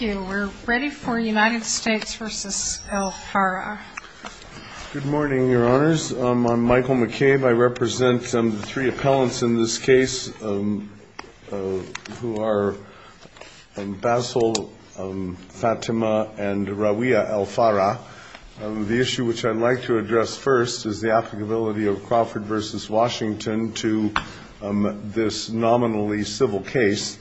Good morning, your honors. I'm Michael McCabe. I represent the three appellants in this case who are Basil, Fatima, and Rawia El Farra. The issue which I'd like to address first is the applicability of Crawford v. Washington to this nominally civil case.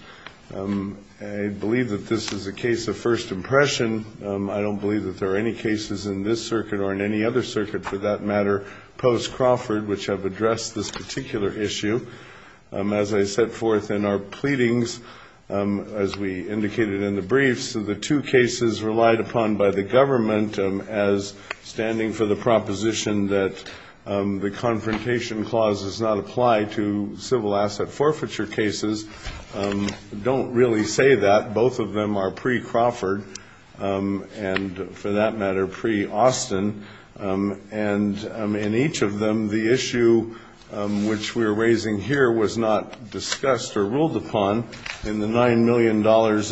I believe that this is a case of first impression. I don't believe that there are any cases in this circuit or in any other circuit for that matter post-Crawford which have addressed this particular issue. As I set forth in our pleadings, as we indicated in the briefs, the two cases relied upon by the government as standing for the proposition that the Confrontation Clause does not apply to civil asset forfeiture cases. I don't really say that. Both of them are pre-Crawford and, for that matter, pre-Austin. And in each of them, the issue which we're raising here was not discussed or ruled upon in the $9 million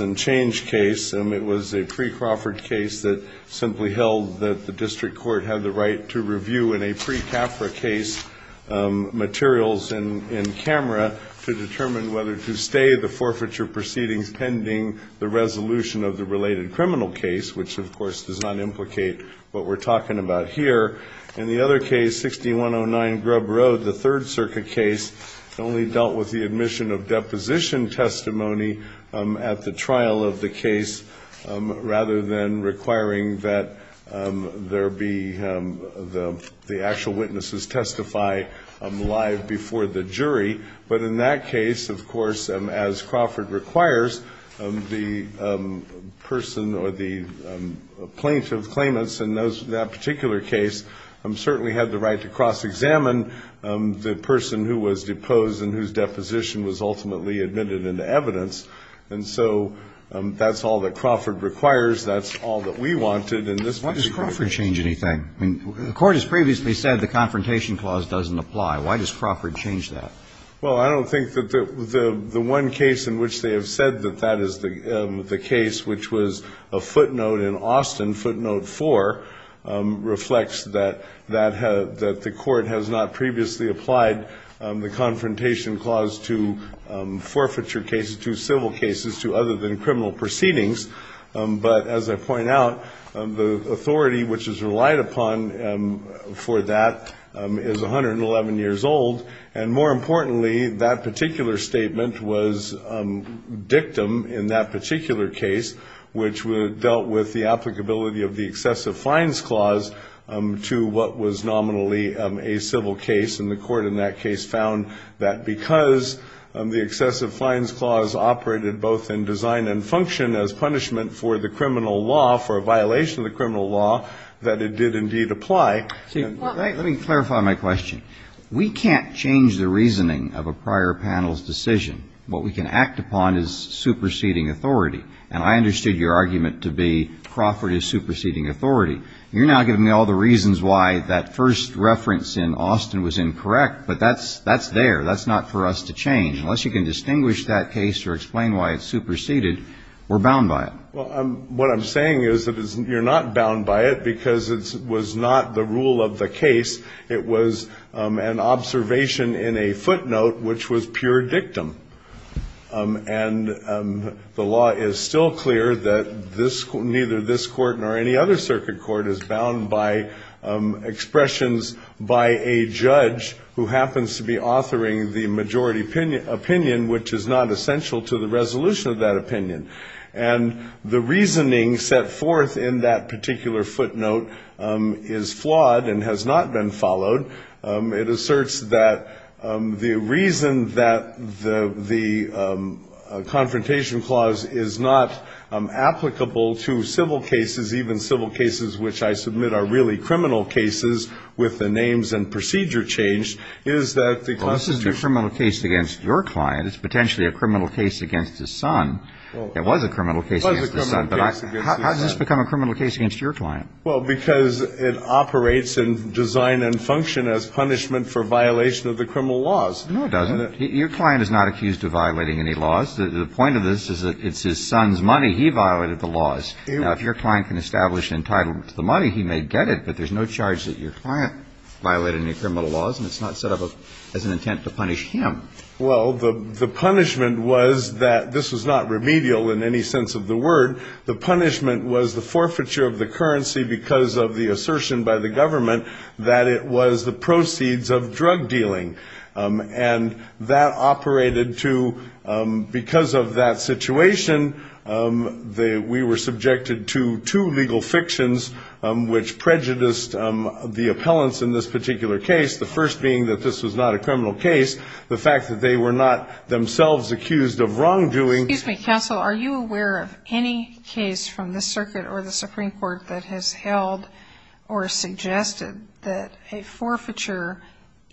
and change case. It was a pre-Crawford case that simply held that the district court had the right to review in a pre-CAFRA case materials in camera to determine whether to stay the forfeiture proceedings pending the resolution of the related criminal case, which, of course, does not implicate what we're talking about here. In the other case, 6109 Grub Road, the Third Circuit case, only dealt with the admission of deposition testimony at the trial of the case rather than requiring that there be the actual witnesses testify live before the jury. But in that case, of course, as Crawford requires, the person or the plaintiff's claimants in that particular case certainly had the right to cross-examine the person who was deposed and whose deposition was ultimately admitted into evidence. And so that's all that Crawford requires. That's all that we wanted in this particular case. Roberts. The Court has previously said the Confrontation Clause doesn't apply. Why does Crawford change that? Well, I don't think that the one case in which they have said that that is the case, which was a footnote in Austin, footnote 4, reflects that the Court has not previously applied the Confrontation Clause. And the date which is relied upon for that is 111 years old. And more importantly, that particular statement was dictum in that particular case, which dealt with the applicability of the Excessive Fines Clause to what was nominally a civil case. And the Court in that case found that because the Excessive Fines Clause operated both in design and function as punishment for the criminal law, for a violation of the criminal law, that it did indeed apply. Let me clarify my question. We can't change the reasoning of a prior panel's decision. What we can act upon is superseding authority. And I understood your argument to be Crawford is superseding authority. You're now giving me all the reasons why that first reference in Austin was incorrect. But that's there. That's not for us to change. Unless you can distinguish that case or explain why it's superseded, we're bound by it. Well, what I'm saying is that you're not bound by it because it was not the rule of the case. It was an observation in a footnote which was pure dictum. And the law is still clear that neither this Court nor any other circuit court is bound by expressions by a judge who happens to be authoring the majority opinion, which is not essential to the resolution of that opinion. And the reasoning set forth in that particular footnote is flawed and has not been followed. It asserts that the reason that the Confrontation Clause is not applicable to civil cases, even civil cases which I submit are really criminal cases with the names and procedure changed, is that the Constitution... Well, this is a criminal case against your client. It's potentially a criminal case against his son. It was a criminal case against his son. But how does this become a criminal case against your client? Well, because it operates in design and function as punishment for violation of the criminal laws. No, it doesn't. Your client is not accused of violating any laws. The point of this is that it's his son's money. He violated the laws. Now, if your client can establish entitlement to the money, he may get it, but there's no charge that your client violated any criminal laws, and it's not set up as an intent to punish him. Well, the punishment was that this was not remedial in any sense of the word. The punishment was the forfeiture of the currency because of the assertion by the government that it was the proceeds of drug dealing. And that operated to, because of that situation, we were subjected to two legal fictions, which prejudiced the appellants in this particular case, the first being that this was not a criminal case, the fact that they were not themselves accused of wrongdoing. Excuse me, counsel. Are you aware of any case from the circuit or the Supreme Court that has held or suggested that a forfeiture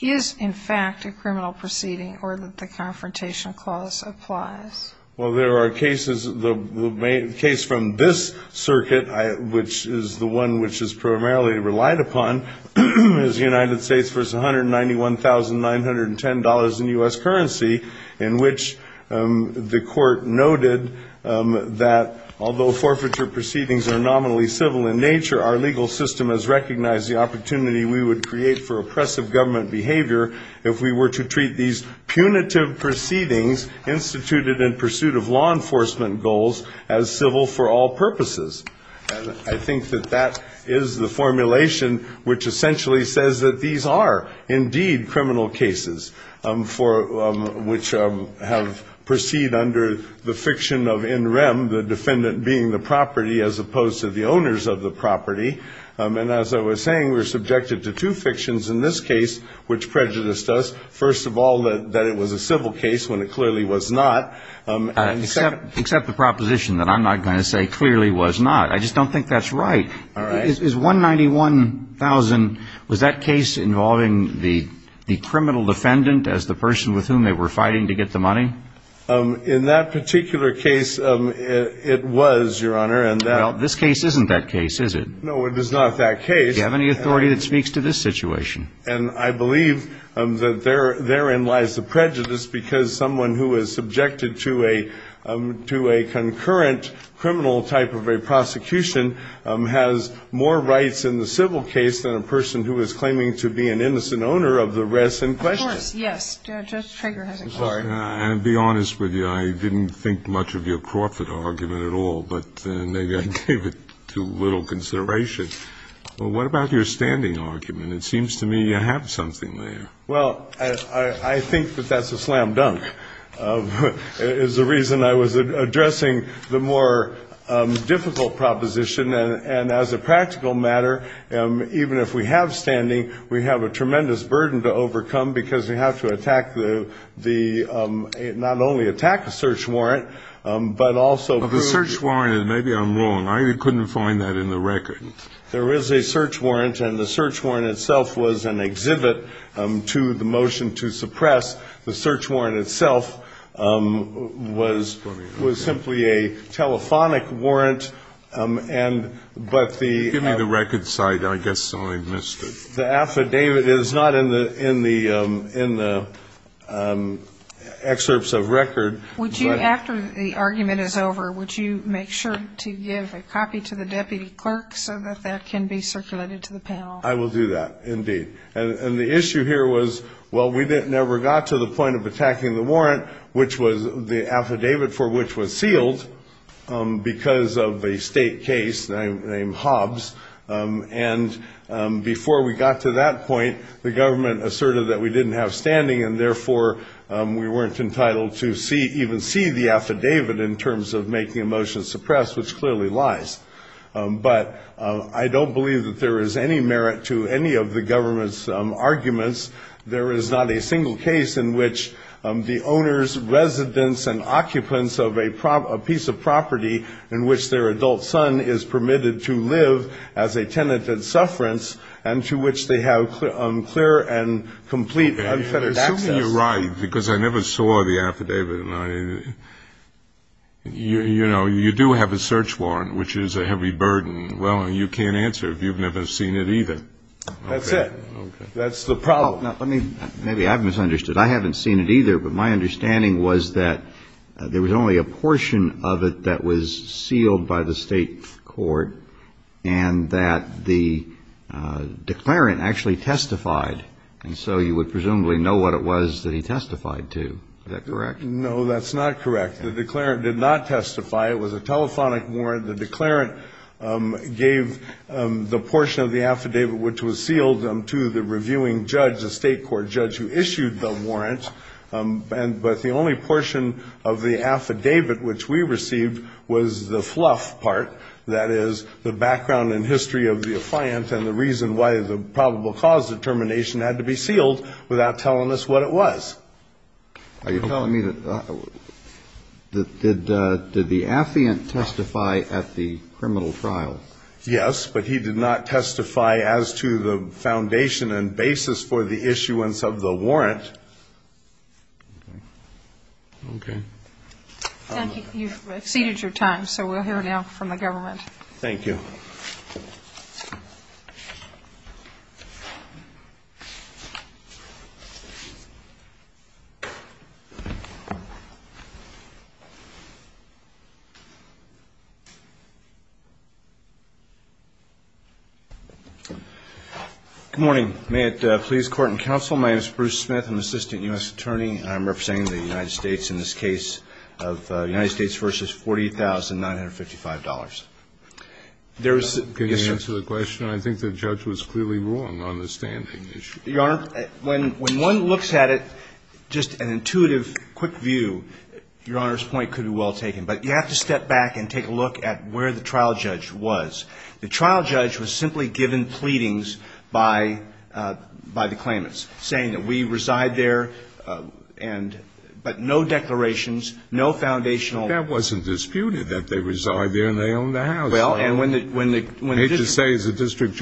is, in fact, a criminal proceeding or that the confrontation clause applies? Well, there are cases. The case from this circuit, which is the one which is primarily relied upon, is the United States v. $191,910 in U.S. currency, in which the court noted that although forfeiture proceedings are nominally civil in nature, our legal system has recognized the opportunity we would create for oppressive government behavior if we were to treat these punitive proceedings instituted in pursuit of law enforcement goals as civil for all purposes. And I think that that is the formulation which essentially says that these are indeed criminal cases which have proceed under the fiction of in rem, the defendant being the property as opposed to the owners of the property. And as I was saying, we're subjected to two fictions in this case which prejudiced us. First of all, that it was a civil case when it clearly was not. Except the proposition that I'm not going to say clearly was not. I just don't think that's right. All right. Is $191,000, was that case involving the criminal defendant as the person with whom they were fighting to get the money? In that particular case, it was, Your Honor. Well, this case isn't that case, is it? No, it is not that case. Do you have any authority that speaks to this situation? And I believe that therein lies the prejudice because someone who is subjected to a concurrent criminal type of a prosecution has more rights in the civil case than a person who is claiming to be an innocent owner of the rest in question. Of course, yes. Judge Trager has a case. And to be honest with you, I didn't think much of your Crawford argument at all, but maybe I gave it too little consideration. Well, what about your standing argument? It seems to me you have something there. Well, I think that that's a slam dunk. It's the reason I was addressing the more difficult proposition, and as a practical matter, even if we have standing, we have a tremendous burden to overcome because we have to attack the, not only attack the search warrant, but also prove the... Well, the search warrant, maybe I'm wrong. I couldn't find that in the record. There is a search warrant, and the search warrant itself was an exhibit to the motion to suppress. The search warrant itself was simply a telephonic warrant, and but the... Give me the record site. I guess I missed it. The affidavit is not in the excerpts of record. Would you, after the argument is over, would you make sure to give a copy to the deputy clerk so that that can be circulated to the panel? I will do that, indeed. And the issue here was, well, we never got to the point of attacking the warrant, which was the affidavit for which was sealed because of a state case named Hobbs, and before we got to that point, the government asserted that we didn't have standing, and therefore we weren't entitled to even see the affidavit in terms of making a motion suppress, which clearly lies. But I don't believe that there is any merit to any of the government's arguments. There is not a single case in which the owner's residence and occupants of a piece of property in which their adult son is permitted to live as a tenant in sufferance and to which they have clear and complete unfettered access. I'm assuming you're right because I never saw the affidavit. You know, you do have a search warrant, which is a heavy burden. Well, you can't answer if you've never seen it either. That's it. Okay. That's the problem. Let me, maybe I've misunderstood. I haven't seen it either, but my understanding was that there was only a portion of it that was sealed by the state court and that the declarant actually testified, and so you would presumably know what it was that he testified to. Is that correct? No, that's not correct. The declarant did not testify. It was a telephonic warrant. The declarant gave the portion of the affidavit which was sealed to the reviewing judge, a state court judge who issued the warrant, but the only portion of the affidavit which we received was the fluff part, that is the background and history of the affiant and the reason why the probable cause determination had to be sealed without telling us what it was. Are you telling me that did the affiant testify at the criminal trial? Yes, but he did not testify as to the foundation and basis for the issuance of the warrant. Okay. Thank you. You've exceeded your time, so we'll hear now from the government. Thank you. Good morning. May it please court and counsel, my name is Bruce Smith. I'm an assistant U.S. attorney. I'm representing the United States in this case of United States v. $40,955. Can you answer the question? I think the judge was clearly wrong on the standing issue. Your Honor, when one looks at it, just an intuitive, quick view, Your Honor's point could be well taken, but you have to step back and take a look at where the trial judge was. The trial judge was simply given pleadings by the claimants saying that we reside there, but no declarations, no foundational. That wasn't disputed that they reside there and they own the house. Well, and when the district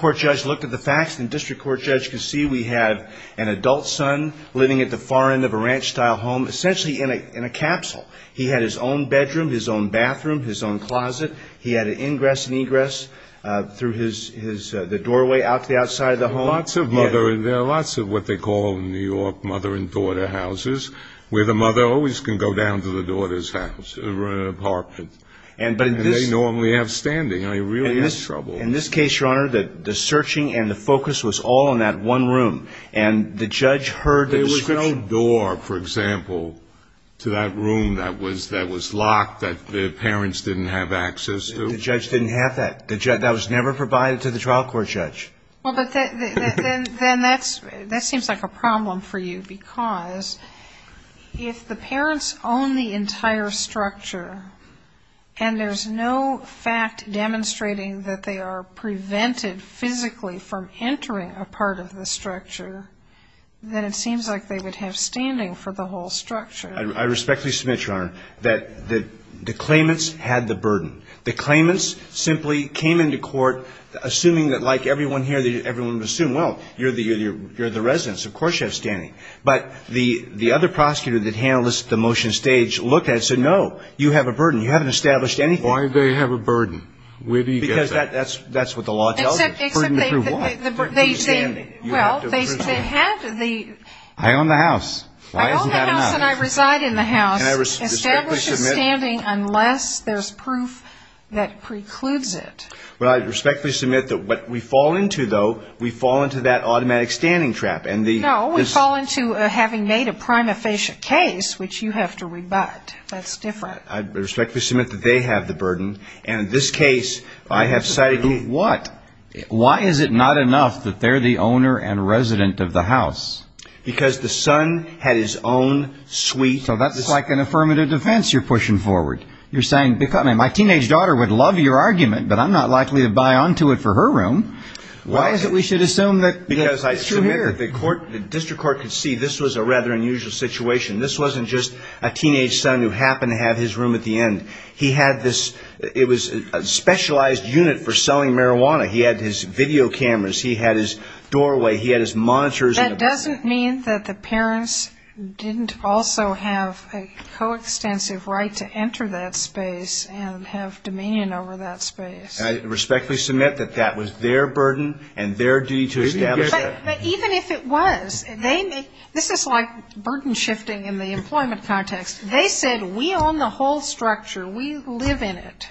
court judge looked at the facts, the district court judge could see we had an adult son living at the far end of a ranch-style home, essentially in a capsule. He had his own bedroom, his own bathroom, his own closet. He had an ingress and egress through the doorway out to the outside of the home. There are lots of what they call in New York mother and daughter houses where the mother always can go down to the daughter's apartment. And they normally have standing. I really get in trouble. In this case, Your Honor, the searching and the focus was all on that one room, and the judge heard the description. There was no door, for example, to that room that was locked that the parents didn't have access to. The judge didn't have that. That was never provided to the trial court judge. Well, then that seems like a problem for you because if the parents own the entire structure and there's no fact demonstrating that they are prevented physically from entering a part of the structure, then it seems like they would have standing for the whole structure. I respectfully submit, Your Honor, that the claimants had the burden. The claimants simply came into court assuming that, like everyone here, everyone would assume, well, you're the resident, so of course you have standing. But the other prosecutor that handled the motion stage looked at it and said, no, you have a burden. You haven't established anything. Why do they have a burden? Because that's what the law tells us. Burden to prove what? To prove standing. Well, they had the ---- I own the house. Why isn't that enough? I own the house and I reside in the house. Establish a standing unless there's proof that precludes it. Well, I respectfully submit that what we fall into, though, we fall into that automatic standing trap. No, we fall into having made a prima facie case, which you have to rebut. That's different. I respectfully submit that they have the burden. And in this case, I have cited you. What? Why is it not enough that they're the owner and resident of the house? Because the son had his own suite. So that's like an affirmative defense you're pushing forward. You're saying, my teenage daughter would love your argument, but I'm not likely to buy onto it for her room. Why is it we should assume that it's through here? The district court could see this was a rather unusual situation. This wasn't just a teenage son who happened to have his room at the end. He had this ---- it was a specialized unit for selling marijuana. He had his video cameras. He had his doorway. He had his monitors. That doesn't mean that the parents didn't also have a coextensive right to enter that space and have dominion over that space. I respectfully submit that that was their burden and their duty to establish that. Even if it was, they make ---- this is like burden shifting in the employment context. They said, we own the whole structure. We live in it.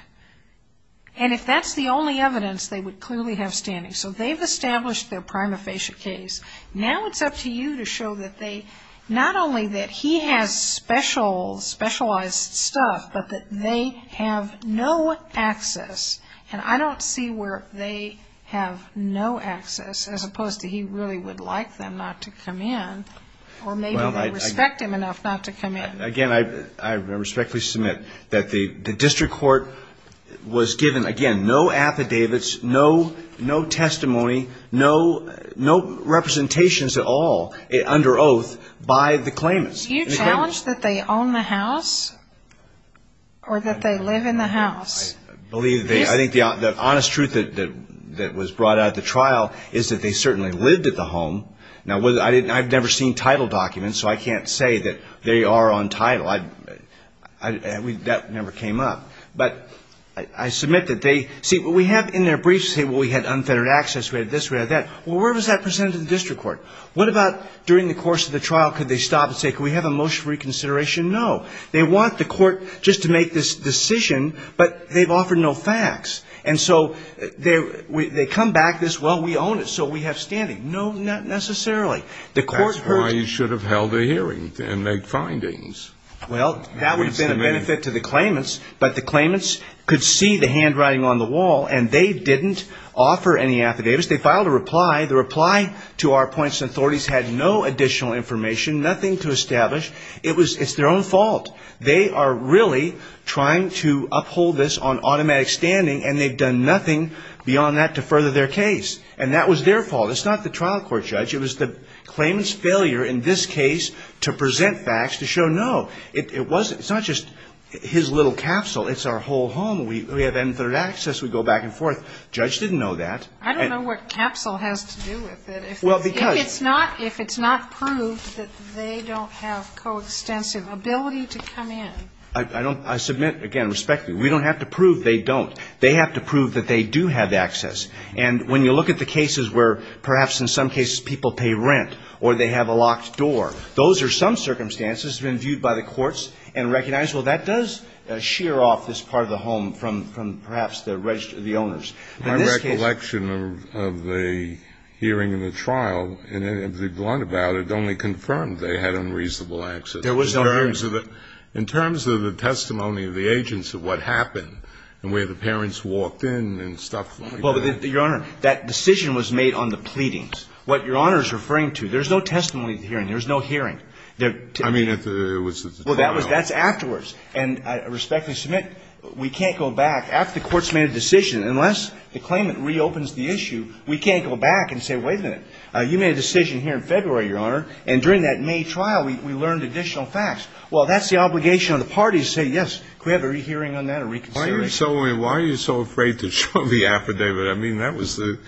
And if that's the only evidence, they would clearly have standing. So they've established their prima facie case. Now it's up to you to show that they ---- not only that he has specialized stuff, but that they have no access. And I don't see where they have no access as opposed to he really would like them not to come in or maybe they respect him enough not to come in. Again, I respectfully submit that the district court was given, again, no affidavits, no testimony, no representations at all under oath by the claimants. Do you challenge that they own the house or that they live in the house? I believe they ---- I think the honest truth that was brought out at the trial is that they certainly lived at the home. Now, I've never seen title documents, so I can't say that they are on title. That never came up. But I submit that they ---- see, what we have in their briefs, say, well, we had unfettered access, we had this, we had that. Well, where was that presented to the district court? What about during the course of the trial, could they stop and say, can we have a motion for reconsideration? No. They want the court just to make this decision, but they've offered no facts. And so they come back this, well, we own it, so we have standing. No, not necessarily. The court heard ---- That's why you should have held a hearing and made findings. Well, that would have been a benefit to the claimants, but the claimants could see the handwriting on the wall and they didn't offer any affidavits. They filed a reply. The reply to our points and authorities had no additional information, nothing to establish. It's their own fault. They are really trying to uphold this on automatic standing, and they've done nothing beyond that to further their case. And that was their fault. It's not the trial court, Judge. It was the claimant's failure in this case to present facts to show no. It wasn't ---- it's not just his little capsule. It's our whole home. We have unfettered access. We go back and forth. Judge didn't know that. I don't know what capsule has to do with it. Well, because ---- If it's not ---- if it's not proved that they don't have coextensive ability to come in. I don't ---- I submit, again, respectfully, we don't have to prove they don't. They have to prove that they do have access. And when you look at the cases where perhaps in some cases people pay rent or they have a locked door, those are some circumstances that have been viewed by the courts and recognized, well, that does shear off this part of the home from perhaps the owners. In this case ---- My recollection of the hearing in the trial, and to be blunt about it, only confirmed they had unreasonable access. There was no hearing. In terms of the testimony of the agents of what happened and where the parents walked in and stuff like that. Well, Your Honor, that decision was made on the pleadings. What Your Honor is referring to, there's no testimony at the hearing. There's no hearing. I mean, it was at the trial. Well, that's afterwards. And I respectfully submit, we can't go back. After the court's made a decision, unless the claimant reopens the issue, we can't go back and say, wait a minute, you made a decision here in February, Your Honor, and during that May trial we learned additional facts. Well, that's the obligation on the party to say, yes, can we have a rehearing on that or reconsideration? Why are you so afraid to show the affidavit? I mean, that was the,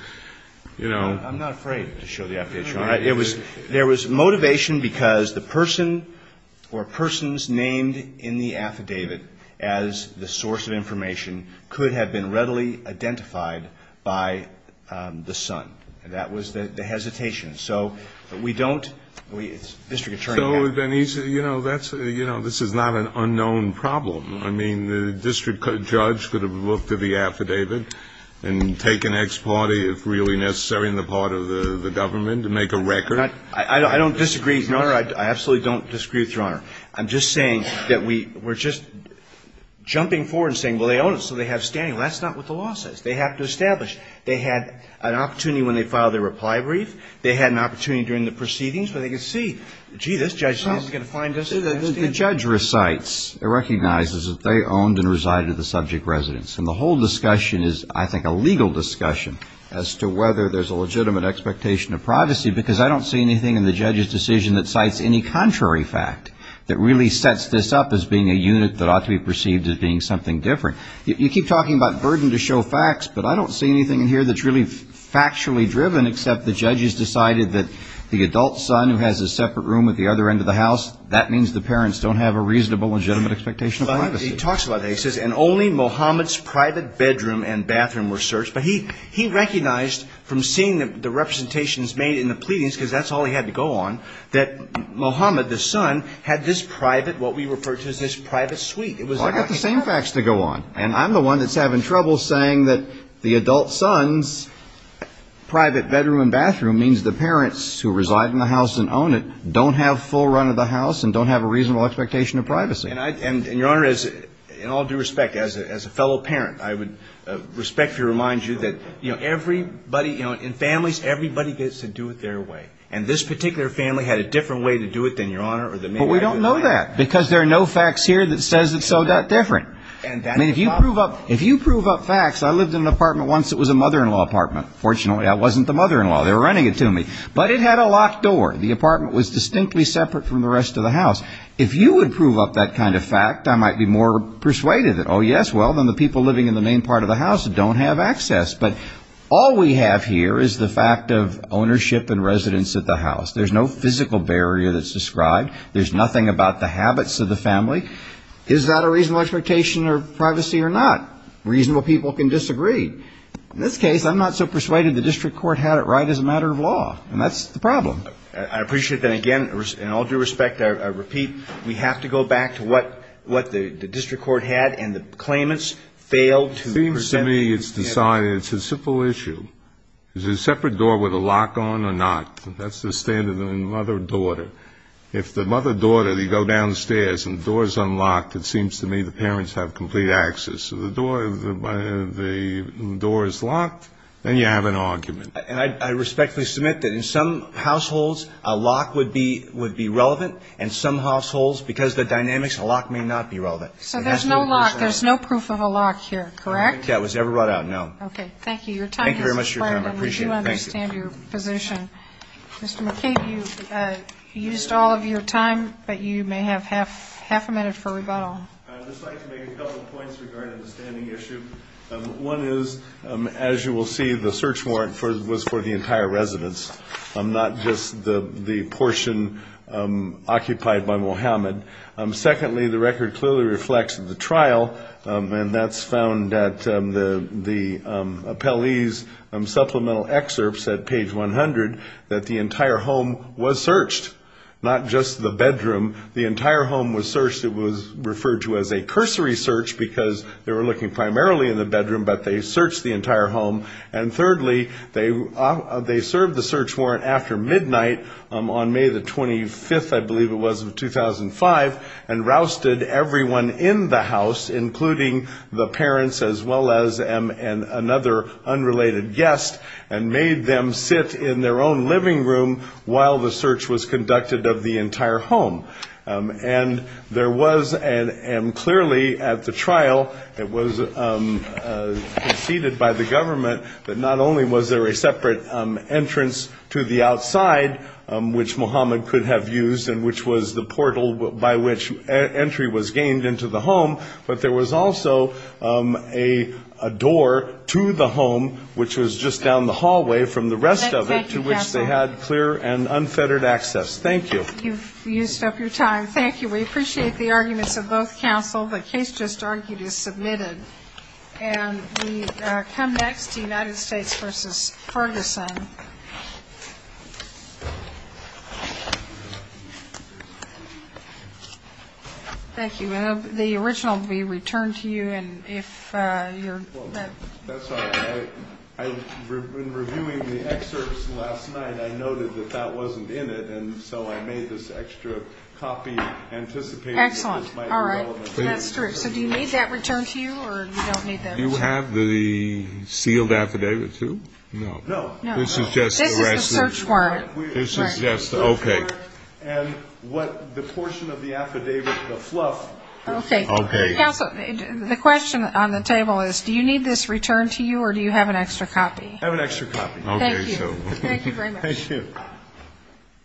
you know ---- I'm not afraid to show the affidavit, Your Honor. There was motivation because the person or persons named in the affidavit as the source of information could have been readily identified by the son. That was the hesitation. So we don't ---- So, then, you know, this is not an unknown problem. I mean, the district judge could have looked at the affidavit and taken ex parte, if really necessary, on the part of the government to make a record. I don't disagree, Your Honor. I absolutely don't disagree with Your Honor. I'm just saying that we're just jumping forward and saying, well, they own it, so they have standing. Well, that's not what the law says. They have to establish. They had an opportunity when they filed their reply brief. They had an opportunity during the proceedings where they could see, gee, this judge is not going to find us. The judge recites, recognizes that they owned and resided at the subject residence. And the whole discussion is, I think, a legal discussion as to whether there's a legitimate expectation of privacy because I don't see anything in the judge's decision that cites any contrary fact that really sets this up as being a unit that ought to be perceived as being something different. You keep talking about burden to show facts, but I don't see anything in here that's really factually driven except the judge has decided that the adult son who has a separate room at the other end of the house, that means the parents don't have a reasonable, legitimate expectation of privacy. He talks about that. He says, and only Mohammed's private bedroom and bathroom were searched. But he recognized from seeing the representations made in the pleadings, because that's all he had to go on, that Mohammed, the son, had this private, what we refer to as this private suite. Well, I've got the same facts to go on. And I'm the one that's having trouble saying that the adult son's private bedroom and bathroom means the parents who reside in the house and own it don't have full run of the house and don't have a reasonable expectation of privacy. And, Your Honor, in all due respect, as a fellow parent, I would respectfully remind you that, you know, everybody, you know, in families, everybody gets to do it their way. And this particular family had a different way to do it than Your Honor or than me. But we don't know that because there are no facts here that says it's so that different. I mean, if you prove up facts, I lived in an apartment once that was a mother-in-law apartment. Fortunately, I wasn't the mother-in-law. They were renting it to me. But it had a locked door. The apartment was distinctly separate from the rest of the house. If you would prove up that kind of fact, I might be more persuaded that, oh, yes, well, then the people living in the main part of the house don't have access. But all we have here is the fact of ownership and residence at the house. There's no physical barrier that's described. There's nothing about the habits of the family. Is that a reasonable expectation of privacy or not? Reasonable people can disagree. In this case, I'm not so persuaded the district court had it right as a matter of law. And that's the problem. I appreciate that. Again, in all due respect, I repeat, we have to go back to what the district court had and the claimants failed to present. It seems to me it's decided. It's a simple issue. Is there a separate door with a lock on or not? That's the standard in the mother-daughter. If the mother-daughter, you go downstairs and the door is unlocked, it seems to me the parents have complete access. So the door is locked, then you have an argument. And I respectfully submit that in some households a lock would be relevant, and some households, because of the dynamics, a lock may not be relevant. So there's no lock. There's no proof of a lock here, correct? I don't think that was ever brought out, no. Okay. Thank you. Your time has expired. Thank you very much for your time. I appreciate it. Thank you. And we do understand your position. Mr. McCain, you've used all of your time, but you may have half a minute for rebuttal. I'd just like to make a couple points regarding the standing issue. One is, as you will see, the search warrant was for the entire residence, not just the portion occupied by Mohammed. Secondly, the record clearly reflects the trial, and that's found at the appellee's supplemental excerpts at page 100 that the entire home was searched, not just the bedroom. The entire home was searched. It was referred to as a cursory search because they were looking primarily in the bedroom, but they searched the entire home. And thirdly, they served the search warrant after midnight on May the 25th, I believe it was, of 2005, and rousted everyone in the house, including the parents as well as another unrelated guest, and made them sit in their own living room while the search was conducted of the entire home. And there was clearly at the trial, it was conceded by the government that not only was there a separate entrance to the outside, which Mohammed could have used and which was the portal by which entry was gained into the home, but there was also a door to the home, which was just down the hallway from the rest of it, to which they had clear and unfettered access. Thank you. You've used up your time. Thank you. We appreciate the arguments of both counsel. The case just argued is submitted. And we come next to United States v. Ferguson. Thank you. The original will be returned to you, and if you're ready. That's all right. In reviewing the excerpts last night, I noted that that wasn't in it, and so I made this extra copy anticipating that this might be relevant. Excellent. All right. That's true. So do you need that returned to you, or you don't need that? Do you have the sealed affidavit, too? No. No. No. This is just the rest of it. This is the search warrant. This is just, okay. And what the portion of the affidavit, the fluff. Okay. Okay. Counsel, the question on the table is, do you need this returned to you, or do you have an extra copy? I have an extra copy. Okay. Thank you. Thank you very much. Thank you.